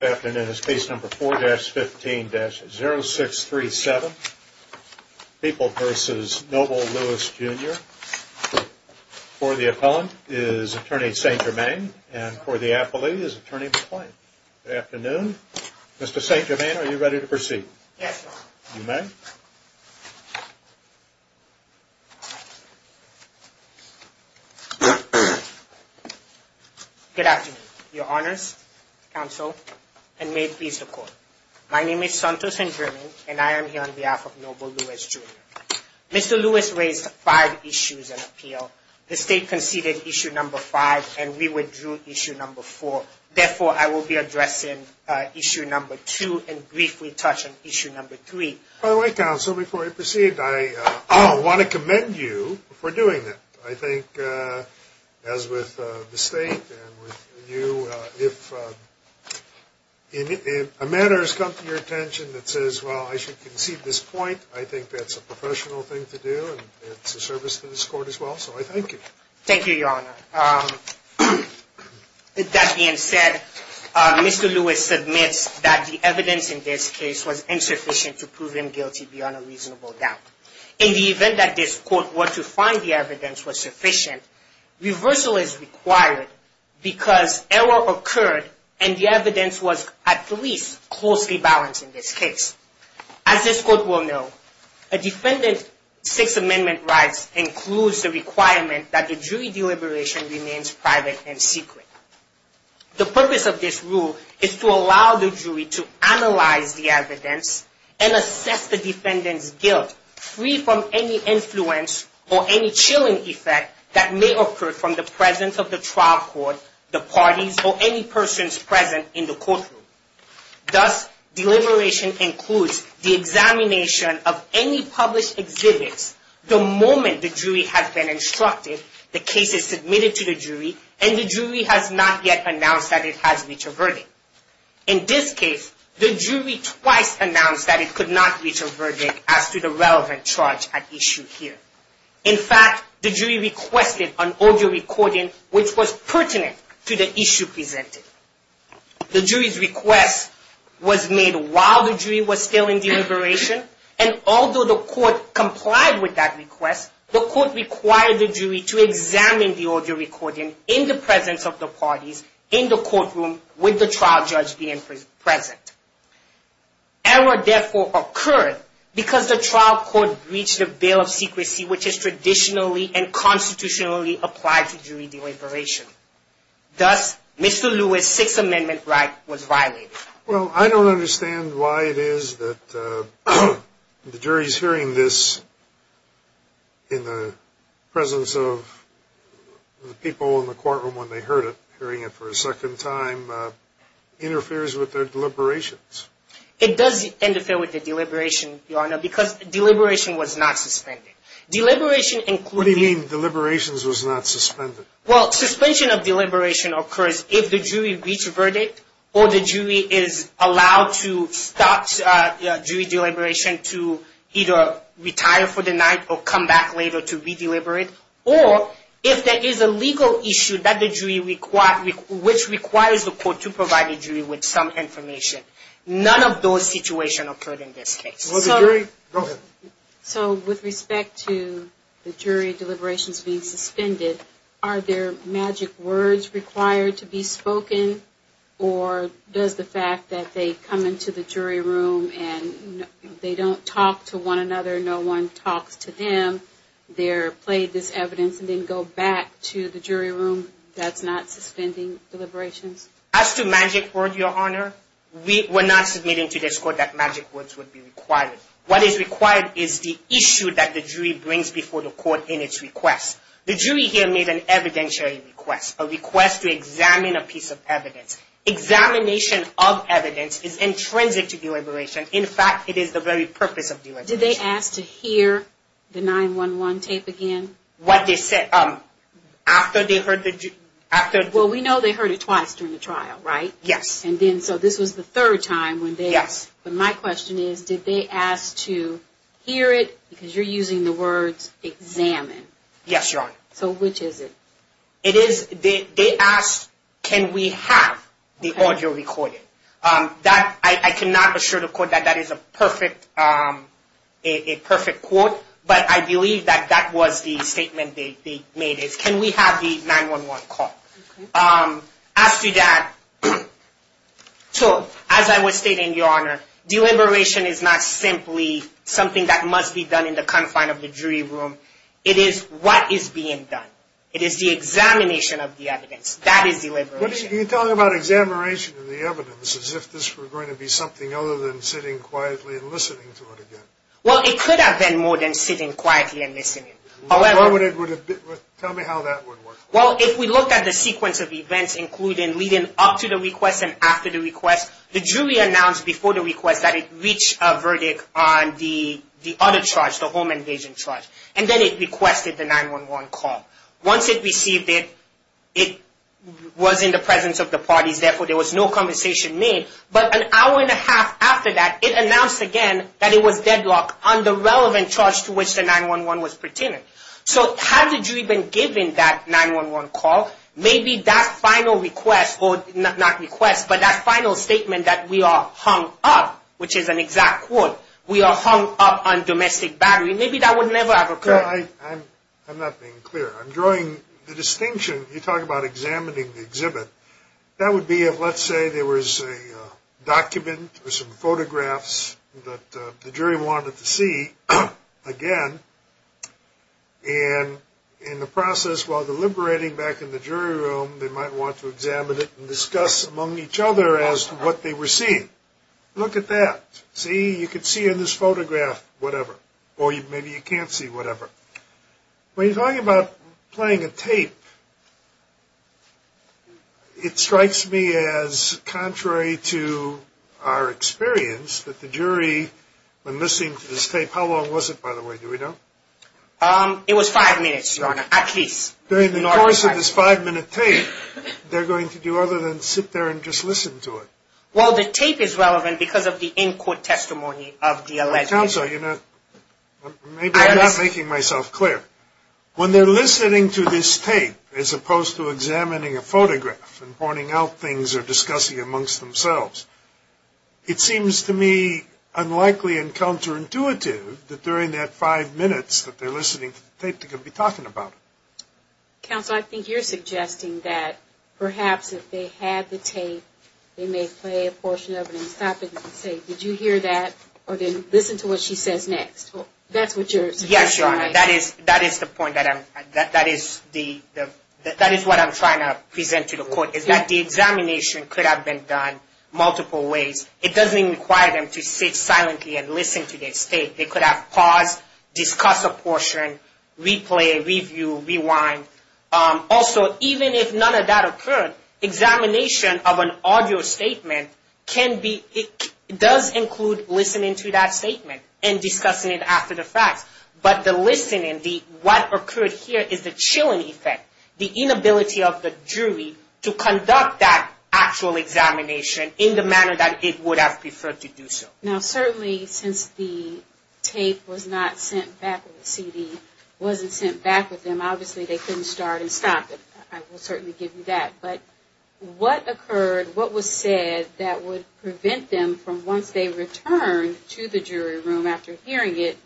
Afternoon is case number 4-15-0637, People v. Noble Lewis Jr. For the appellant is attorney St. Germain and for the appellee is attorney McClain. Good afternoon. Mr. St. Germain, are you ready to proceed? Yes, sir. You may. Good afternoon. Your honors, counsel, and may it please the court. My name is Santos St. Germain and I am here on behalf of Noble Lewis Jr. Mr. Lewis raised five issues in appeal. The state conceded issue number 5 and we withdrew issue number 4. Therefore, I will be addressing issue number 2 and briefly touch on issue number 3. By the way, counsel, before I proceed, I want to commend you for doing that. I think as with the state and with you, if a matter has come to your attention that says, well, I should concede this point, I think that's a professional thing to do and it's a service to this court as well. So I thank you. Thank you, your honor. With that being said, Mr. Lewis admits that the evidence in this case was insufficient to prove him guilty beyond a reasonable doubt. In the event that this court were to find the evidence was sufficient, reversal is required because error occurred and the evidence was at least closely balanced in this case. As this court will know, a defendant's Sixth Amendment rights includes the requirement that the jury deliberation remains private and secret. The purpose of this rule is to allow the jury to analyze the evidence and assess the defendant's guilt free from any influence or any chilling effect that may occur from the presence of the trial court, the parties, or any persons present in the courtroom. Thus, deliberation includes the examination of any published exhibits. The moment the jury has been instructed, the case is submitted to the jury and the jury has not yet announced that it has reached a verdict. In this case, the jury twice announced that it could not reach a verdict as to the relevant charge at issue here. In fact, the jury requested an audio recording which was pertinent to the issue presented. The jury's request was made while the jury was still in deliberation and although the court complied with that request, the court required the jury to examine the audio recording in the presence of the parties in the courtroom with the trial judge being present. Error therefore occurred because the trial court breached the bail of secrecy which is traditionally and constitutionally applied to jury deliberation. Thus, Mr. Lewis' Sixth Amendment right was violated. Well, I don't understand why it is that the jury's hearing this in the presence of the people in the courtroom when they heard it, hearing it for a second time, interferes with their deliberations. It does interfere with the deliberation, Your Honor, because deliberation was not suspended. Deliberation included... What do you mean deliberations was not suspended? Well, suspension of deliberation occurs if the jury reached a verdict or the jury is allowed to stop jury deliberation to either retire for the night or come back later to re-deliberate or if there is a legal issue which requires the court to provide the jury with some information. None of those situations occurred in this case. Will the jury? Go ahead. Are there magic words required to be spoken or does the fact that they come into the jury room and they don't talk to one another, no one talks to them, they're played this evidence and then go back to the jury room, that's not suspending deliberations? As to magic word, Your Honor, we're not submitting to this court that magic words would be required. What is required is the issue that the jury brings before the court in its request. The jury here made an evidentiary request, a request to examine a piece of evidence. Examination of evidence is intrinsic to deliberation. In fact, it is the very purpose of deliberation. Did they ask to hear the 911 tape again? What they said after they heard the... Well, we know they heard it twice during the trial, right? Yes. And then so this was the third time when they... Yes. But my question is, did they ask to hear it? Because you're using the words examine. Yes, Your Honor. So which is it? It is, they asked, can we have the audio recorded? That, I cannot assure the court that that is a perfect quote, but I believe that that was the statement they made. It's, can we have the 911 call? Okay. As to that, so as I was stating, Your Honor, deliberation is not simply something that must be done in the confine of the jury room. It is what is being done. It is the examination of the evidence. That is deliberation. You're talking about examination of the evidence as if this were going to be something other than sitting quietly and listening to it again. Well, it could have been more than sitting quietly and listening. Tell me how that would work. Well, if we look at the sequence of events including leading up to the request and after the request, the jury announced before the request that it reached a verdict on the other charge, the home invasion charge. And then it requested the 911 call. Once it received it, it was in the presence of the parties, therefore there was no conversation made. But an hour and a half after that, it announced again that it was deadlocked on the relevant charge to which the 911 was pertaining. So had the jury been given that 911 call, maybe that final request, not request, but that final statement that we are hung up, which is an exact quote, we are hung up on domestic battery, maybe that would never have occurred. I'm not being clear. I'm drawing the distinction. You talk about examining the exhibit. That would be if, let's say, there was a document or some photographs that the jury wanted to see again. And in the process, while deliberating back in the jury room, they might want to examine it and discuss among each other as to what they were seeing. Look at that. See, you can see in this photograph whatever. Or maybe you can't see whatever. When you're talking about playing a tape, it strikes me as contrary to our experience that the jury, when listening to this tape, how long was it, by the way, do we know? It was five minutes, Your Honor, at least. During the course of this five-minute tape, they're going to do other than sit there and just listen to it. Well, the tape is relevant because of the in-court testimony of the alleged... Counsel, you know, maybe I'm not making myself clear. When they're listening to this tape as opposed to examining a photograph and pointing out things or discussing amongst themselves, it seems to me unlikely and counterintuitive that during that five minutes that they're listening to the tape, they're going to be talking about it. Counsel, I think you're suggesting that perhaps if they had the tape, they may play a portion of it and stop it and say, did you hear that? Or then listen to what she says next. That's what you're suggesting. Yes, Your Honor. That is the point that I'm... That is what I'm trying to present to the court, is that the examination could have been done multiple ways. It doesn't require them to sit silently and listen to this tape. They could have paused, discussed a portion, replay, review, rewind. Also, even if none of that occurred, examination of an audio statement can be... It does include listening to that statement and discussing it after the fact. But the listening, what occurred here is the chilling effect. The inability of the jury to conduct that actual examination in the manner that it would have preferred to do so. Now, certainly since the tape was not sent back with the CD, wasn't sent back with them, obviously they couldn't start and stop it. I will certainly give you that. But what occurred, what was said that would prevent them from once they returned to the jury room after hearing it,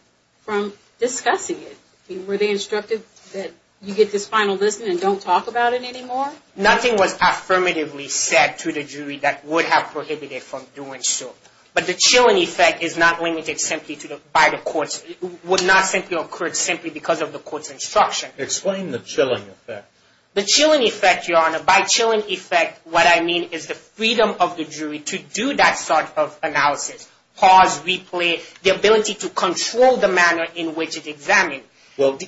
from discussing it? Were they instructed that you get this final listening and don't talk about it anymore? Nothing was affirmatively said to the jury that would have prohibited it from doing so. But the chilling effect is not limited simply by the courts. It would not simply occur simply because of the court's instruction. Explain the chilling effect. The chilling effect, Your Honor, by chilling effect, what I mean is the freedom of the jury to do that sort of analysis. Pause, replay, the ability to control the manner in which it examined. Well,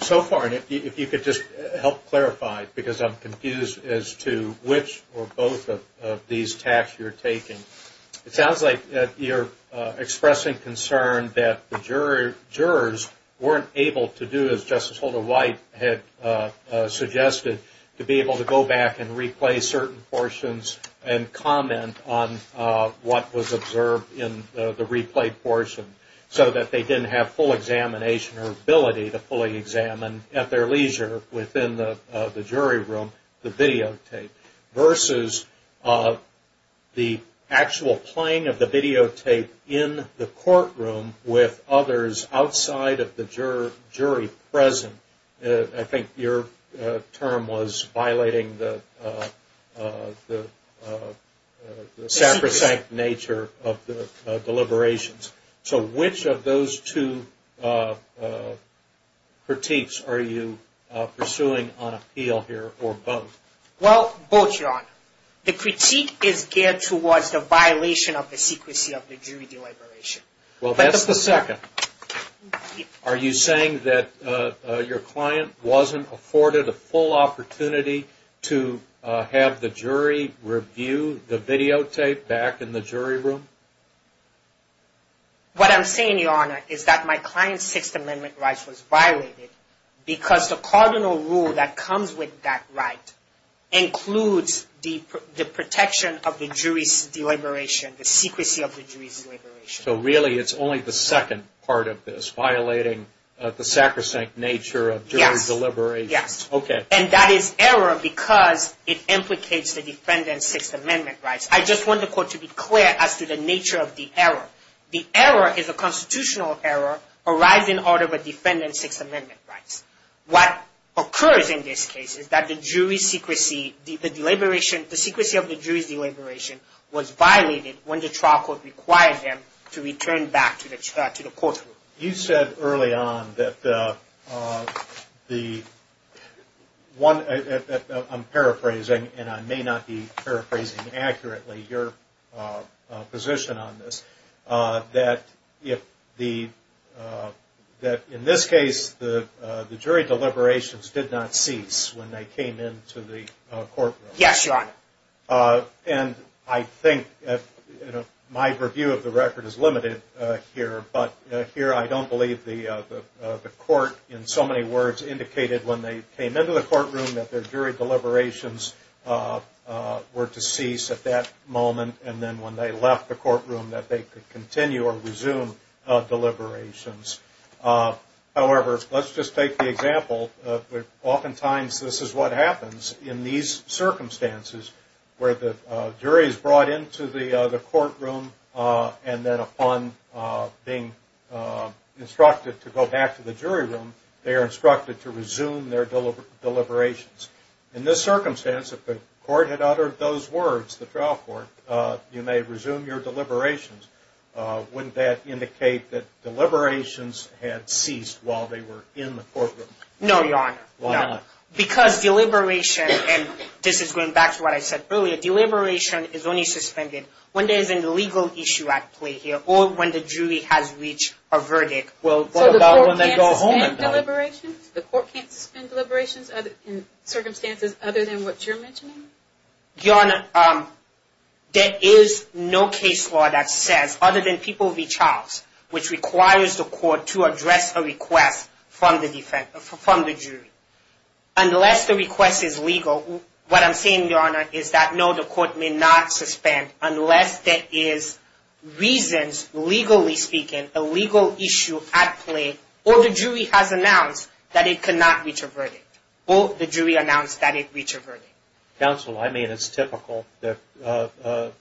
so far, if you could just help clarify, because I'm confused as to which or both of these tasks you're taking. It sounds like you're expressing concern that the jurors weren't able to do as Justice Holder White had suggested to be able to go back and replay certain portions and comment on what was observed in the replayed portion so that they didn't have full examination or ability to fully examine at their leisure within the jury room the videotape versus the actual playing of the videotape in the courtroom with others outside of the jury present. I think your term was violating the sacrosanct nature of the deliberations. So which of those two critiques are you pursuing on appeal here or both? Well, both, Your Honor. The critique is geared towards the violation of the secrecy of the jury deliberation. Well, that's the second. Are you saying that your client wasn't afforded a full opportunity to have the jury review the videotape back in the jury room? What I'm saying, Your Honor, is that my client's Sixth Amendment rights was violated because the cardinal rule that comes with that right includes the protection of the jury's deliberation, the secrecy of the jury's deliberation. So really it's only the second part of this, violating the sacrosanct nature of jury deliberations. Yes. Okay. And that is error because it implicates the defendant's Sixth Amendment rights. I just want the court to be clear as to the nature of the error. The error is a constitutional error arising out of a defendant's Sixth Amendment rights. What occurs in this case is that the jury's secrecy, the deliberation, the secrecy of the jury's deliberation was violated when the trial court required them to return back to the courtroom. You said early on that the one, I'm paraphrasing, and I may not be paraphrasing accurately your position on this, that in this case the jury deliberations did not cease when they came into the courtroom. Yes, Your Honor. And I think my review of the record is limited here, but here I don't believe the court in so many words indicated when they came into the courtroom that their jury deliberations were to cease at that moment and then when they left the courtroom that they could continue or resume deliberations. However, let's just take the example. Oftentimes this is what happens in these circumstances where the jury is brought into the courtroom and then upon being instructed to go back to the jury room, they are instructed to resume their deliberations. In this circumstance, if the court had uttered those words, the trial court, you may resume your deliberations. Wouldn't that indicate that deliberations had ceased while they were in the courtroom? No, Your Honor. Why not? Because deliberation, and this is going back to what I said earlier, deliberation is only suspended when there is a legal issue at play here or when the jury has reached a verdict. So the court can't suspend deliberations? The court can't suspend deliberations in circumstances other than what you're mentioning? Your Honor, there is no case law that says, other than people v. Charles, which requires the court to address a request from the jury. Unless the request is legal, what I'm saying, Your Honor, is that no, the court may not suspend unless there is reasons, legally speaking, a legal issue at play, or the jury has announced that it cannot reach a verdict, or the jury announced that it reached a verdict. Counsel, I mean, it's typical that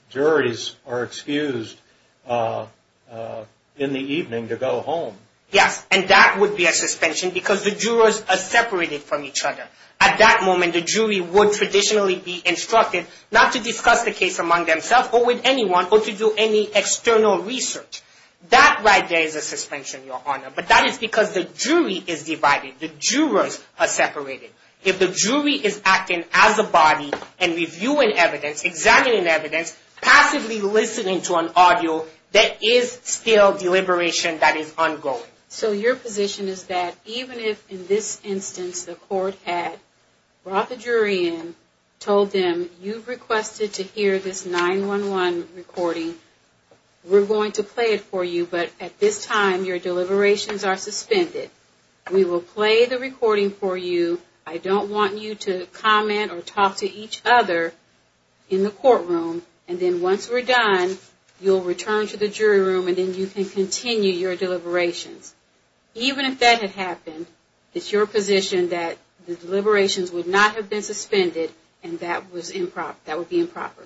juries are excused in the evening to go home. Yes, and that would be a suspension because the jurors are separated from each other. At that moment, the jury would traditionally be instructed not to discuss the case among themselves or with anyone or to do any external research. That right there is a suspension, Your Honor, but that is because the jury is divided. The jurors are separated. If the jury is acting as a body and reviewing evidence, examining evidence, passively listening to an audio, there is still deliberation that is ongoing. So your position is that even if, in this instance, the court had brought the jury in, told them, you've requested to hear this 911 recording, we're going to play it for you, but at this time, your deliberations are suspended. We will play the recording for you. I don't want you to comment or talk to each other in the courtroom, and then once we're done, you'll return to the jury room and then you can continue your deliberations. Even if that had happened, it's your position that the deliberations would not have been suspended and that would be improper.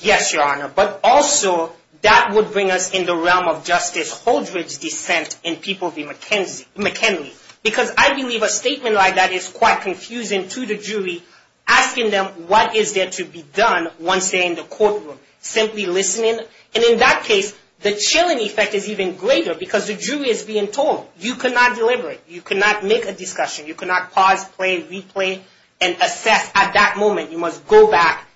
Yes, Your Honor. But also, that would bring us in the realm of Justice Holdred's dissent in People v. McKinley because I believe a statement like that is quite confusing to the jury, asking them what is there to be done once they're in the courtroom. Simply listening, and in that case, the chilling effect is even greater because the jury is being told, you cannot deliberate. You cannot make a discussion. You cannot pause, play, replay, and assess. At that moment, you must go back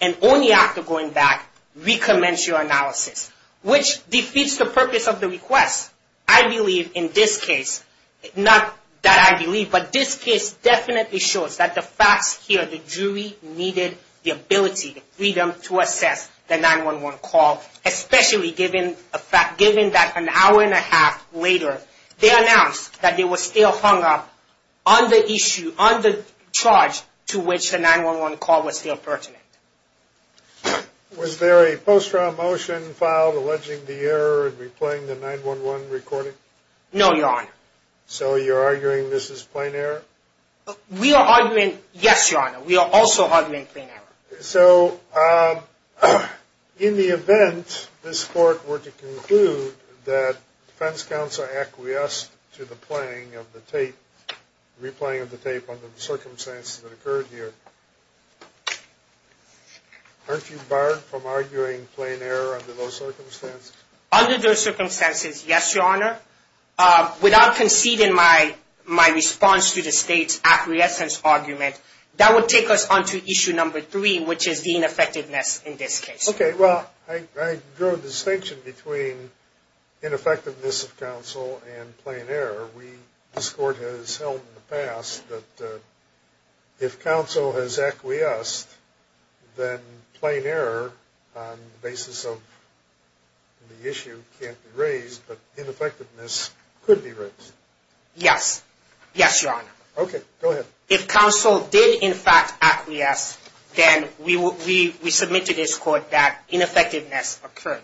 and only after going back, recommence your analysis, which defeats the purpose of the request. I believe in this case, not that I believe, but this case definitely shows that the facts here, the jury needed the ability, the freedom to assess the 911 call, especially given that an hour and a half later, they announced that they were still hung up on the issue, on the charge to which the 911 call was still pertinent. Was there a post-trial motion filed alleging the error in replaying the 911 recording? No, Your Honor. So you're arguing this is plain error? We are arguing, yes, Your Honor. We are also arguing plain error. So in the event this court were to conclude that defense counsel acquiesced to the playing of the tape, replaying of the tape under the circumstances that occurred here, aren't you barred from arguing plain error under those circumstances? Under those circumstances, yes, Your Honor. Without conceding my response to the state's acquiescence argument, that would take us on to issue number three, which is the ineffectiveness in this case. Okay. Well, I drew a distinction between ineffectiveness of counsel and plain error. This court has held in the past that if counsel has acquiesced, then plain error on the basis of the issue can't be raised, but ineffectiveness could be raised. Yes. Yes, Your Honor. Okay. Go ahead. If counsel did, in fact, acquiesce, then we submit to this court that ineffectiveness occurred.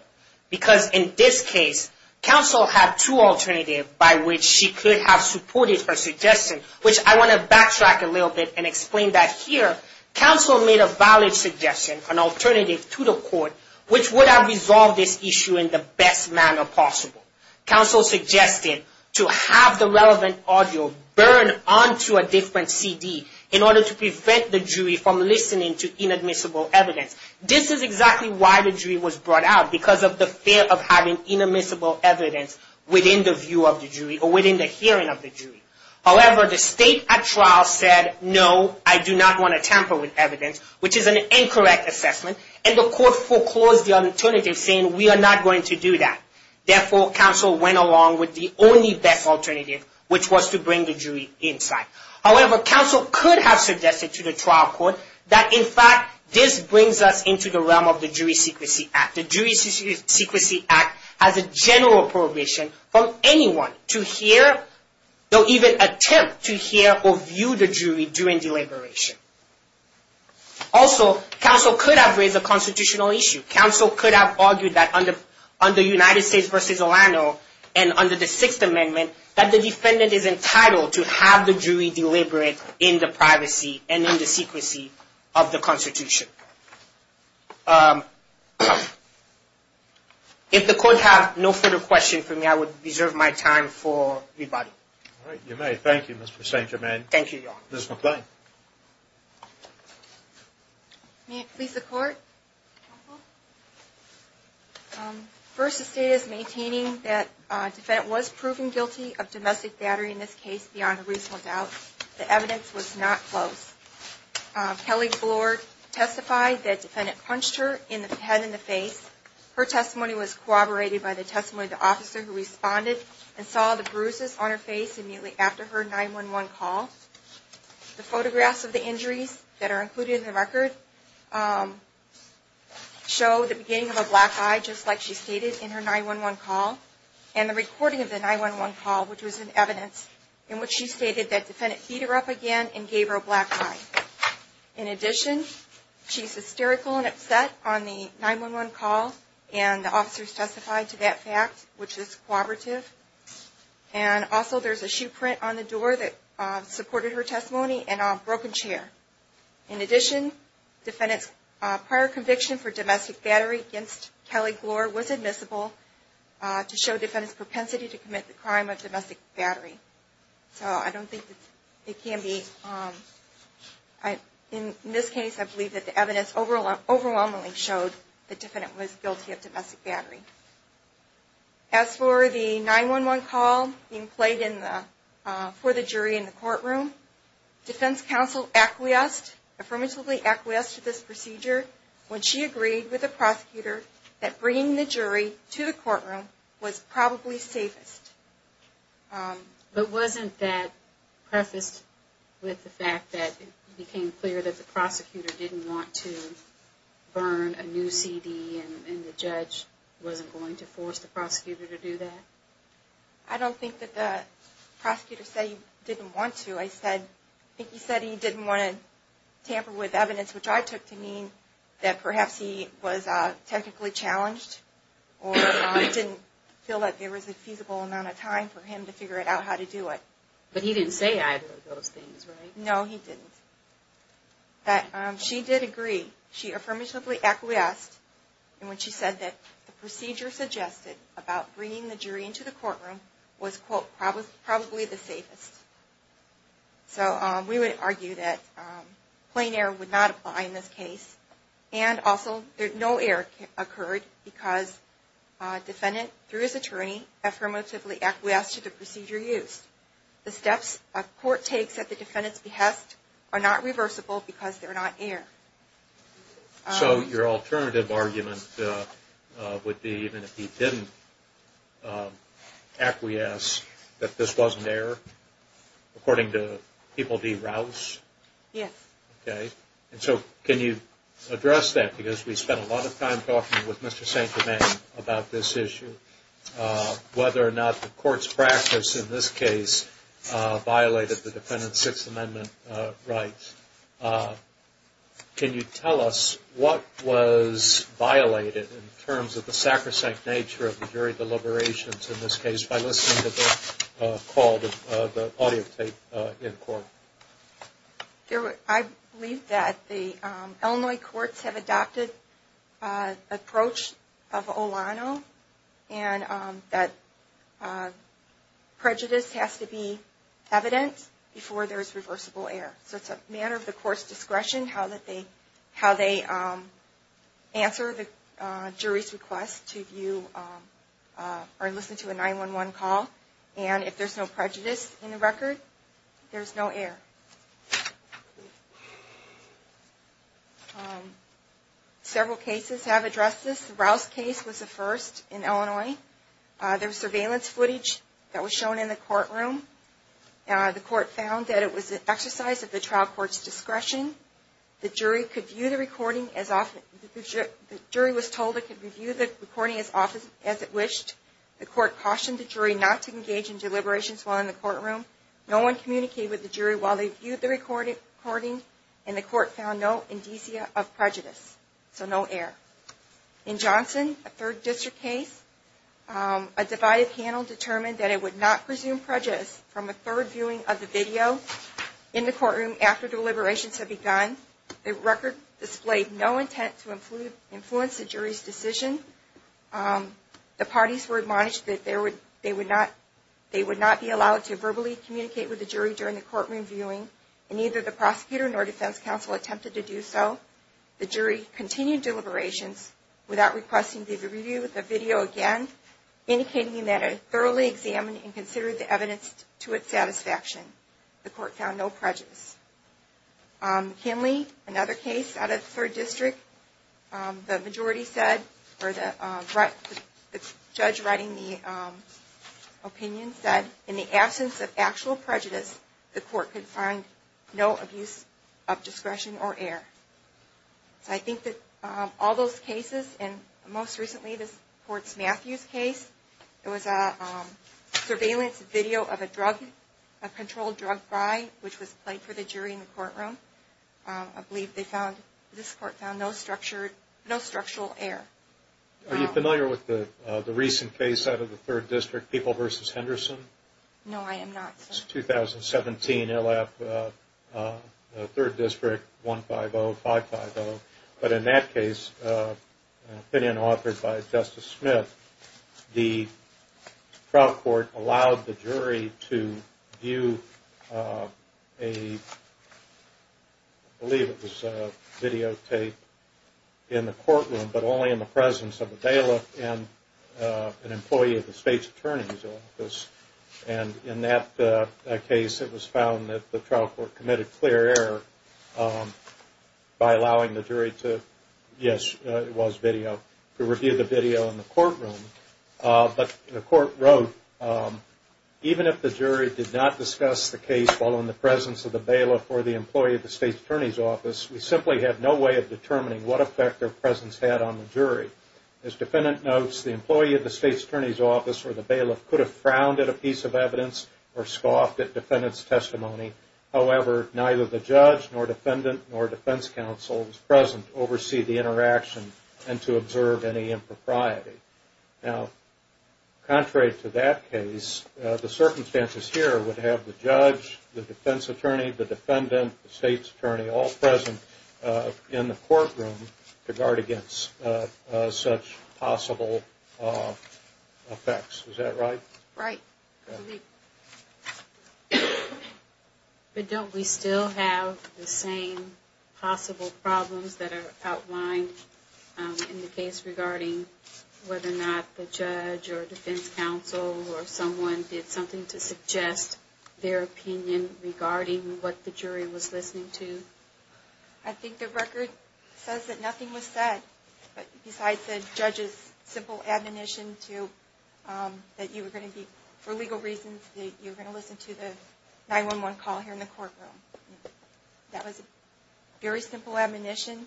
Because in this case, counsel had two alternatives by which she could have supported her suggestion, which I want to backtrack a little bit and explain that here. Counsel made a valid suggestion, an alternative to the court, which would have resolved this issue in the best manner possible. Counsel suggested to have the relevant audio burned onto a different CD in order to prevent the jury from listening to inadmissible evidence. This is exactly why the jury was brought out, because of the fear of having inadmissible evidence within the view of the jury or within the hearing of the jury. However, the state at trial said, no, I do not want to tamper with evidence, which is an incorrect assessment, and the court foreclosed the alternative, saying we are not going to do that. Therefore, counsel went along with the only best alternative, which was to bring the jury inside. However, counsel could have suggested to the trial court that, in fact, this brings us into the realm of the Jury Secrecy Act. The Jury Secrecy Act has a general prohibition from anyone to hear or even attempt to hear or view the jury during deliberation. Also, counsel could have raised a constitutional issue. Counsel could have argued that, under United States v. Orlando and under the Sixth Amendment, that the defendant is entitled to have the jury deliberate in the privacy and in the secrecy of the Constitution. If the court has no further questions for me, I would reserve my time for rebuttal. All right. You may. Thank you, Mr. Sancherman. Thank you, Your Honor. Ms. McClain. May it please the Court? Counsel? First, the State is maintaining that the defendant was proven guilty of domestic battery in this case beyond a reasonable doubt. The evidence was not close. Kelly Bloor testified that the defendant punched her in the head and the face. Her testimony was corroborated by the testimony of the officer who responded and saw the bruises on her face immediately after her 911 call. The photographs of the injuries that are included in the record show the beginning of a black eye, just like she stated in her 911 call, and the recording of the 911 call, which was an evidence in which she stated that the defendant beat her up again and gave her a black eye. In addition, she's hysterical and upset on the 911 call, and the officer testified to that fact, which is corroborative. And also, there's a shoe print on the door that supported her testimony and a broken chair. In addition, the defendant's prior conviction for domestic battery against Kelly Bloor was admissible to show the defendant's propensity to commit the crime of domestic battery. So I don't think it can be. In this case, I believe that the evidence overwhelmingly showed the defendant was guilty of domestic battery. As for the 911 call being played for the jury in the courtroom, defense counsel affirmatively acquiesced to this procedure when she agreed with the prosecutor that bringing the jury to the courtroom was probably safest. But wasn't that prefaced with the fact that it became clear that the prosecutor didn't want to burn a new CD and the judge wasn't going to force the prosecutor to do that? I don't think that the prosecutor said he didn't want to. I think he said he didn't want to tamper with evidence, which I took to mean that perhaps he was technically challenged or didn't feel like there was a feasible amount of time for him to figure out how to do it. But he didn't say either of those things, right? No, he didn't. But she did agree. She affirmatively acquiesced when she said that the procedure suggested about bringing the jury into the courtroom was, quote, probably the safest. So we would argue that plain error would not apply in this case. And also, no error occurred because defendant, through his attorney, affirmatively acquiesced to the procedure used. The steps a court takes at the defendant's behest are not reversible because they're not error. So your alternative argument would be even if he didn't acquiesce, that this wasn't error, according to People v. Rouse? Yes. Okay. And so can you address that? Because we spent a lot of time talking with Mr. St. Germain about this issue. Whether or not the court's practice in this case violated the defendant's Sixth Amendment rights. Can you tell us what was violated in terms of the sacrosanct nature of the jury deliberations in this case by listening to the call, the audio tape in court? I believe that the Illinois courts have adopted an approach of Olano and that prejudice has to be evident before there is reversible error. So it's a matter of the court's discretion how they answer the jury's request to view or listen to a 911 call. And if there's no prejudice in the record, there's no error. Several cases have addressed this. The Rouse case was the first in Illinois. There was surveillance footage that was shown in the courtroom. The court found that it was an exercise of the trial court's discretion. The jury was told it could review the recording as often as it wished. The court cautioned the jury not to engage in deliberations while in the courtroom. No one communicated with the jury while they viewed the recording. And the court found no indicia of prejudice. So no error. In Johnson, a third district case, a divided panel determined that it would not presume prejudice from a third viewing of the video in the courtroom after deliberations had begun. The record displayed no intent to influence the jury's decision. The parties were admonished that they would not be allowed to verbally communicate with the jury during the courtroom viewing, and neither the prosecutor nor defense counsel attempted to do so. The jury continued deliberations without requesting to review the video again, indicating that it had thoroughly examined and considered the evidence to its satisfaction. The court found no prejudice. Kinley, another case out of the third district. The majority said, or the judge writing the opinion said, in the absence of actual prejudice, the court could find no abuse of discretion or error. So I think that all those cases, and most recently this court's Matthews case, it was a surveillance video of a drug, a controlled drug buy, which was played for the jury in the courtroom. I believe this court found no structural error. Are you familiar with the recent case out of the third district, People v. Henderson? No, I am not. It's 2017, ILLAP, third district, 150-550. But in that case, an opinion authored by Justice Smith, the trial court allowed the jury to view a, I believe it was videotape, in the courtroom, but only in the presence of a bailiff and an employee of the state's attorney's office. And in that case, it was found that the trial court committed clear error by allowing the jury to, yes, it was video, to review the video in the courtroom. But the court wrote, even if the jury did not discuss the case while in the presence of the bailiff or the employee of the state's attorney's office, we simply have no way of determining what effect their presence had on the jury. As the defendant notes, the employee of the state's attorney's office or the bailiff could have frowned at a piece of evidence or scoffed at defendant's testimony. However, neither the judge nor defendant nor defense counsel was present to oversee the interaction and to observe any impropriety. Now, contrary to that case, the circumstances here would have the judge, the defense attorney, the defendant, the state's attorney all present in the courtroom to guard against such possible effects. Is that right? Right. But don't we still have the same possible problems that are outlined in the case regarding whether or not the judge or defense counsel or someone did something to suggest their opinion regarding what the jury was listening to? I think the record says that nothing was said besides the judge's simple admonition that you were going to be, for legal reasons, that you were going to listen to the 911 call here in the courtroom. That was a very simple admonition. Unfortunately,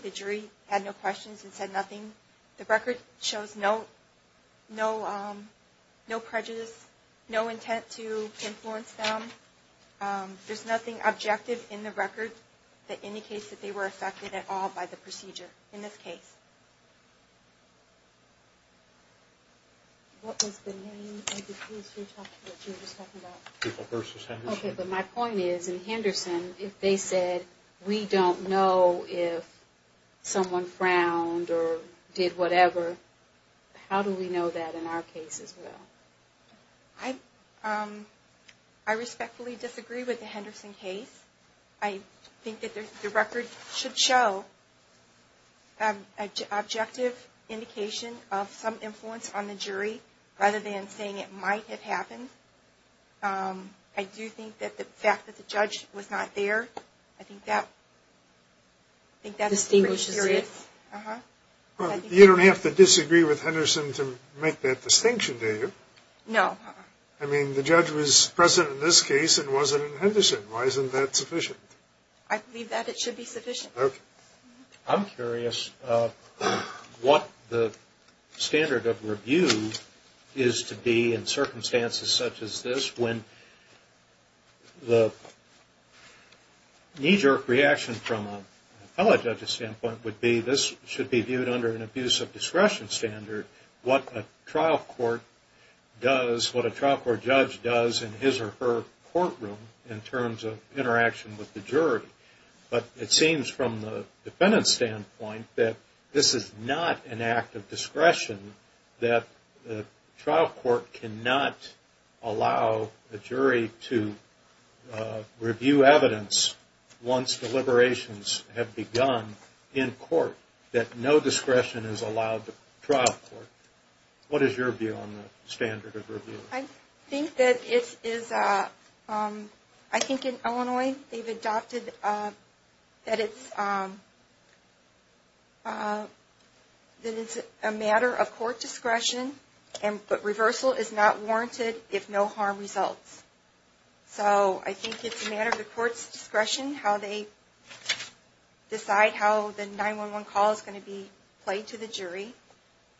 the jury had no questions and said nothing. The record shows no prejudice, no intent to influence them. There's nothing objective in the record that indicates that they were affected at all by the procedure in this case. What was the name of the case you were talking about? Okay, but my point is, in Henderson, if they said we don't know if someone frowned or did whatever, how do we know that in our case as well? I respectfully disagree with the Henderson case. I think that the record should show an objective indication of some influence on the jury rather than saying it might have happened. I do think that the fact that the judge was not there, I think that distinguishes it. You don't have to disagree with Henderson to make that distinction, do you? No. I mean, the judge was present in this case and wasn't in Henderson. Why isn't that sufficient? I believe that it should be sufficient. I'm curious what the standard of review is to be in circumstances such as this when the knee-jerk reaction from a fellow judge's standpoint would be, this should be viewed under an abuse of discretion standard, what a trial court does, what a trial court judge does in his or her courtroom in terms of interaction with the jury. But it seems from the defendant's standpoint that this is not an act of discretion, that a trial court cannot allow a jury to review evidence once deliberations have begun in court, that no discretion is allowed to a trial court. What is your view on the standard of review? I think that it is, I think in Illinois they've adopted that it's a matter of court discretion, but reversal is not warranted if no harm results. So I think it's a matter of the court's discretion how they decide how the 911 call is going to be played to the jury,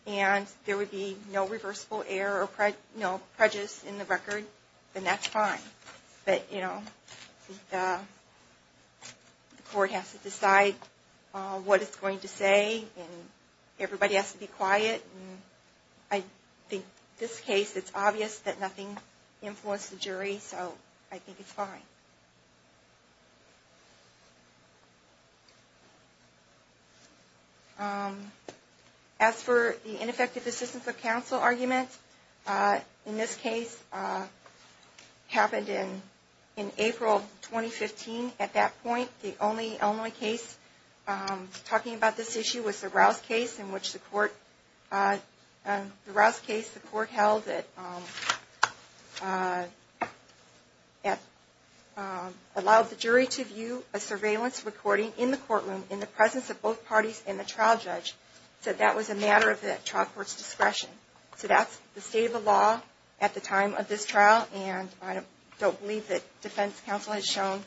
and there would be no reversible error or prejudice in the record, then that's fine. But the court has to decide what it's going to say, and everybody has to be quiet. I think in this case it's obvious that nothing influenced the jury, so I think it's fine. As for the ineffective assistance of counsel argument, in this case it happened in April 2015. At that point the only Illinois case talking about this issue was the Rouse case, in which the court held that it allowed the jury to view a surveillance recording in the courtroom in the presence of both parties and the trial judge, so that was a matter of the trial court's discretion. So that's the state of the law at the time of this trial, and I don't believe that defense counsel has shown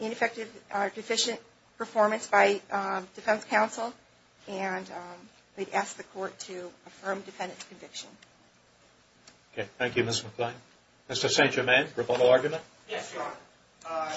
ineffective or deficient performance by defense counsel, and we'd ask the court to affirm defendant's conviction. Okay, thank you, Ms. McClain. Mr. St. Germain, rebuttal argument? Yes, Your Honor.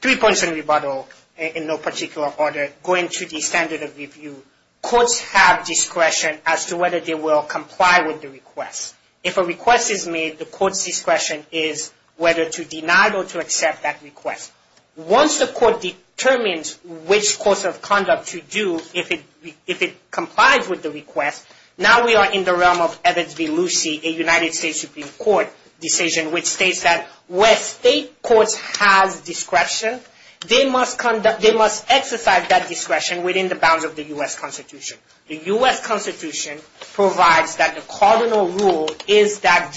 Three points on rebuttal in no particular order. Going to the standard of review, courts have discretion as to whether they will comply with the request. If a request is made, the court's discretion is whether to deny it or to accept that request. Once the court determines which course of conduct to do if it complies with the request, now we are in the realm of Evans v. Lucy, a United States Supreme Court decision, which states that where state courts have discretion, they must exercise that discretion within the bounds of the U.S. Constitution. The U.S. Constitution provides that the cardinal rule is that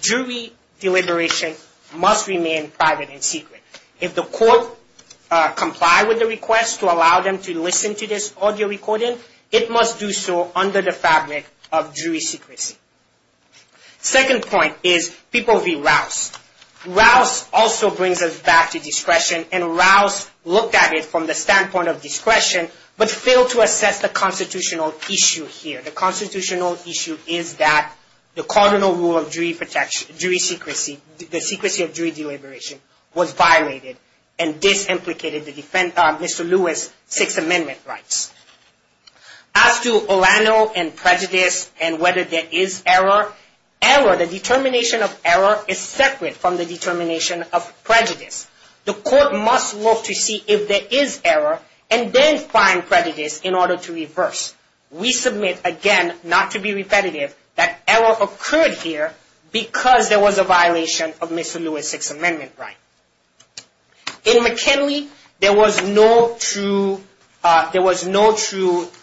jury deliberation must remain private and secret. If the court complies with the request to allow them to listen to this audio recording, it must do so under the fabric of jury secrecy. Second point is People v. Rouse. Rouse also brings us back to discretion, and Rouse looked at it from the standpoint of discretion, but failed to assess the constitutional issue here. The constitutional issue is that the cardinal rule of jury secrecy, the secrecy of jury deliberation, was violated and disimplicated Mr. Lewis' Sixth Amendment rights. As to Olano and prejudice and whether there is error, error, the determination of error, is separate from the determination of prejudice. The court must look to see if there is error and then find prejudice in order to reverse. We submit again, not to be repetitive, that error occurred here because there was a violation of Mr. Lewis' Sixth Amendment right. In McKinley, there was no true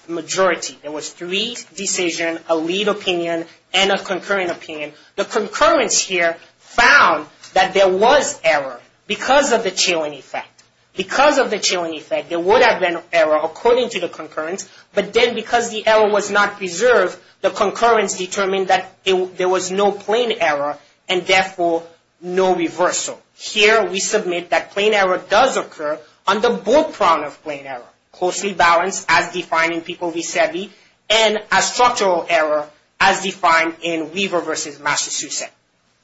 majority. There was three decisions, a lead opinion, and a concurring opinion. The concurrence here found that there was error because of the chilling effect. Because of the chilling effect, there would have been error according to the concurrence, but then because the error was not preserved, the concurrence determined that there was no plain error and therefore no reversal. Here, we submit that plain error does occur on the bull prong of plain error, closely balanced as defined in People v. Seve, and as structural error as defined in Weaver v. Massachusetts.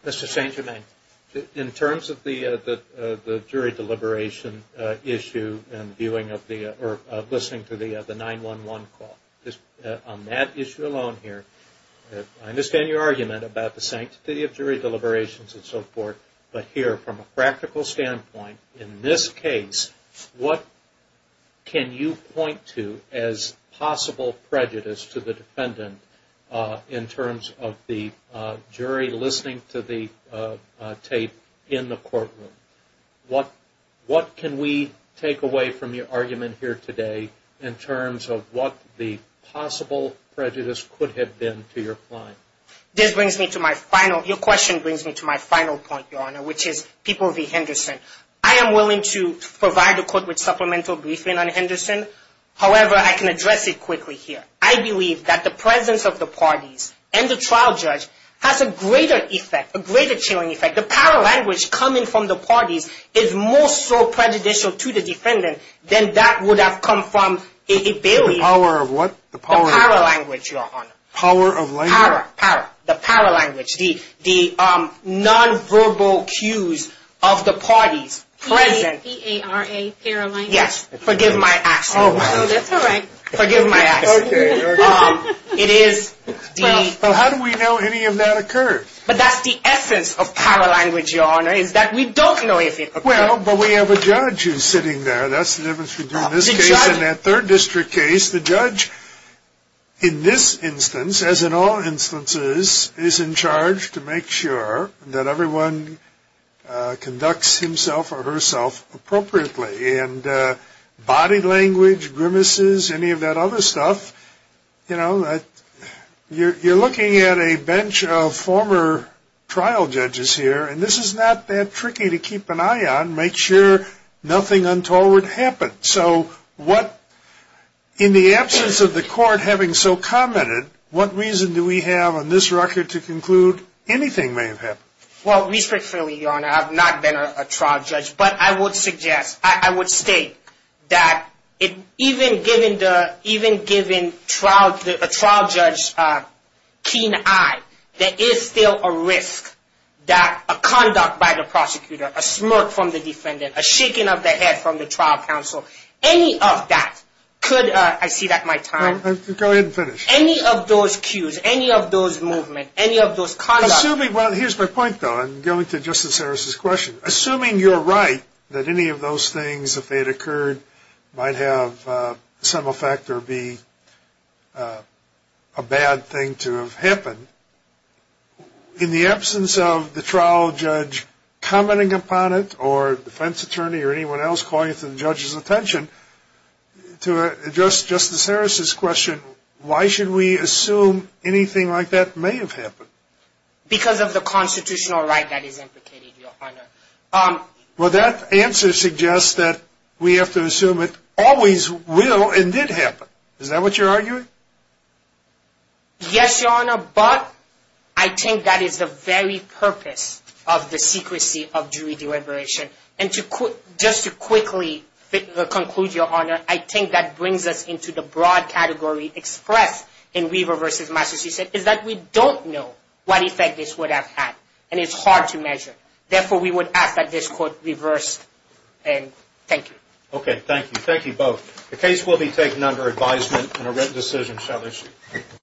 Mr. St. Germain, in terms of the jury deliberation issue and viewing of the, or listening to the 911 call, on that issue alone here, I understand your argument about the sanctity of jury deliberations and so forth, but here, from a practical standpoint, in this case, what can you point to as possible prejudice to the defendant in terms of the jury listening to the tape in the courtroom? What can we take away from your argument here today in terms of what the possible prejudice could have been to your client? This brings me to my final, your question brings me to my final point, Your Honor, which is People v. Henderson. I am willing to provide the court with supplemental briefing on Henderson. However, I can address it quickly here. I believe that the presence of the parties and the trial judge has a greater effect, a greater chilling effect. The power language coming from the parties is more so prejudicial to the defendant than that would have come from a bailiff. The power language, Your Honor. Power of language? Power, power, the power language. The nonverbal cues of the parties present. P-A-R-A, power language. Yes, forgive my accent. Oh, that's all right. Forgive my accent. Okay, okay. It is the… Well, how do we know any of that occurred? But that's the essence of power language, Your Honor, is that we don't know if it occurred. Well, but we have a judge who's sitting there. That's the difference between this case and that third district case. The judge in this instance, as in all instances, is in charge to make sure that everyone conducts himself or herself appropriately. And body language, grimaces, any of that other stuff, you know, you're looking at a bench of former trial judges here, and this is not that tricky to keep an eye on, make sure nothing untoward happens. So what, in the absence of the court having so commented, what reason do we have on this record to conclude anything may have happened? Well, respectfully, Your Honor, I've not been a trial judge, but I would suggest, I would state, that even given a trial judge keen eye, there is still a risk that a conduct by the prosecutor, a smirk from the defendant, a shaking of the head from the trial counsel, any of that could, I see that my time. Go ahead and finish. Any of those cues, any of those movements, any of those conducts. Well, here's my point, though, and going to Justice Harris' question. Assuming you're right that any of those things, if they had occurred, might have some effect or be a bad thing to have happened, in the absence of the trial judge commenting upon it or defense attorney or anyone else calling to the judge's attention, to address Justice Harris' question, why should we assume anything like that may have happened? Because of the constitutional right that is implicated, Your Honor. Well, that answer suggests that we have to assume it always will and did happen. Is that what you're arguing? Yes, Your Honor, but I think that is the very purpose of the secrecy of jury deliberation. And just to quickly conclude, Your Honor, I think that brings us into the broad category expressed in Weaver v. Masters. He said, is that we don't know what effect this would have had and it's hard to measure. Therefore, we would ask that this court reverse and thank you. Okay, thank you. Thank you both. The case will be taken under advisement and a written decision, shall I say.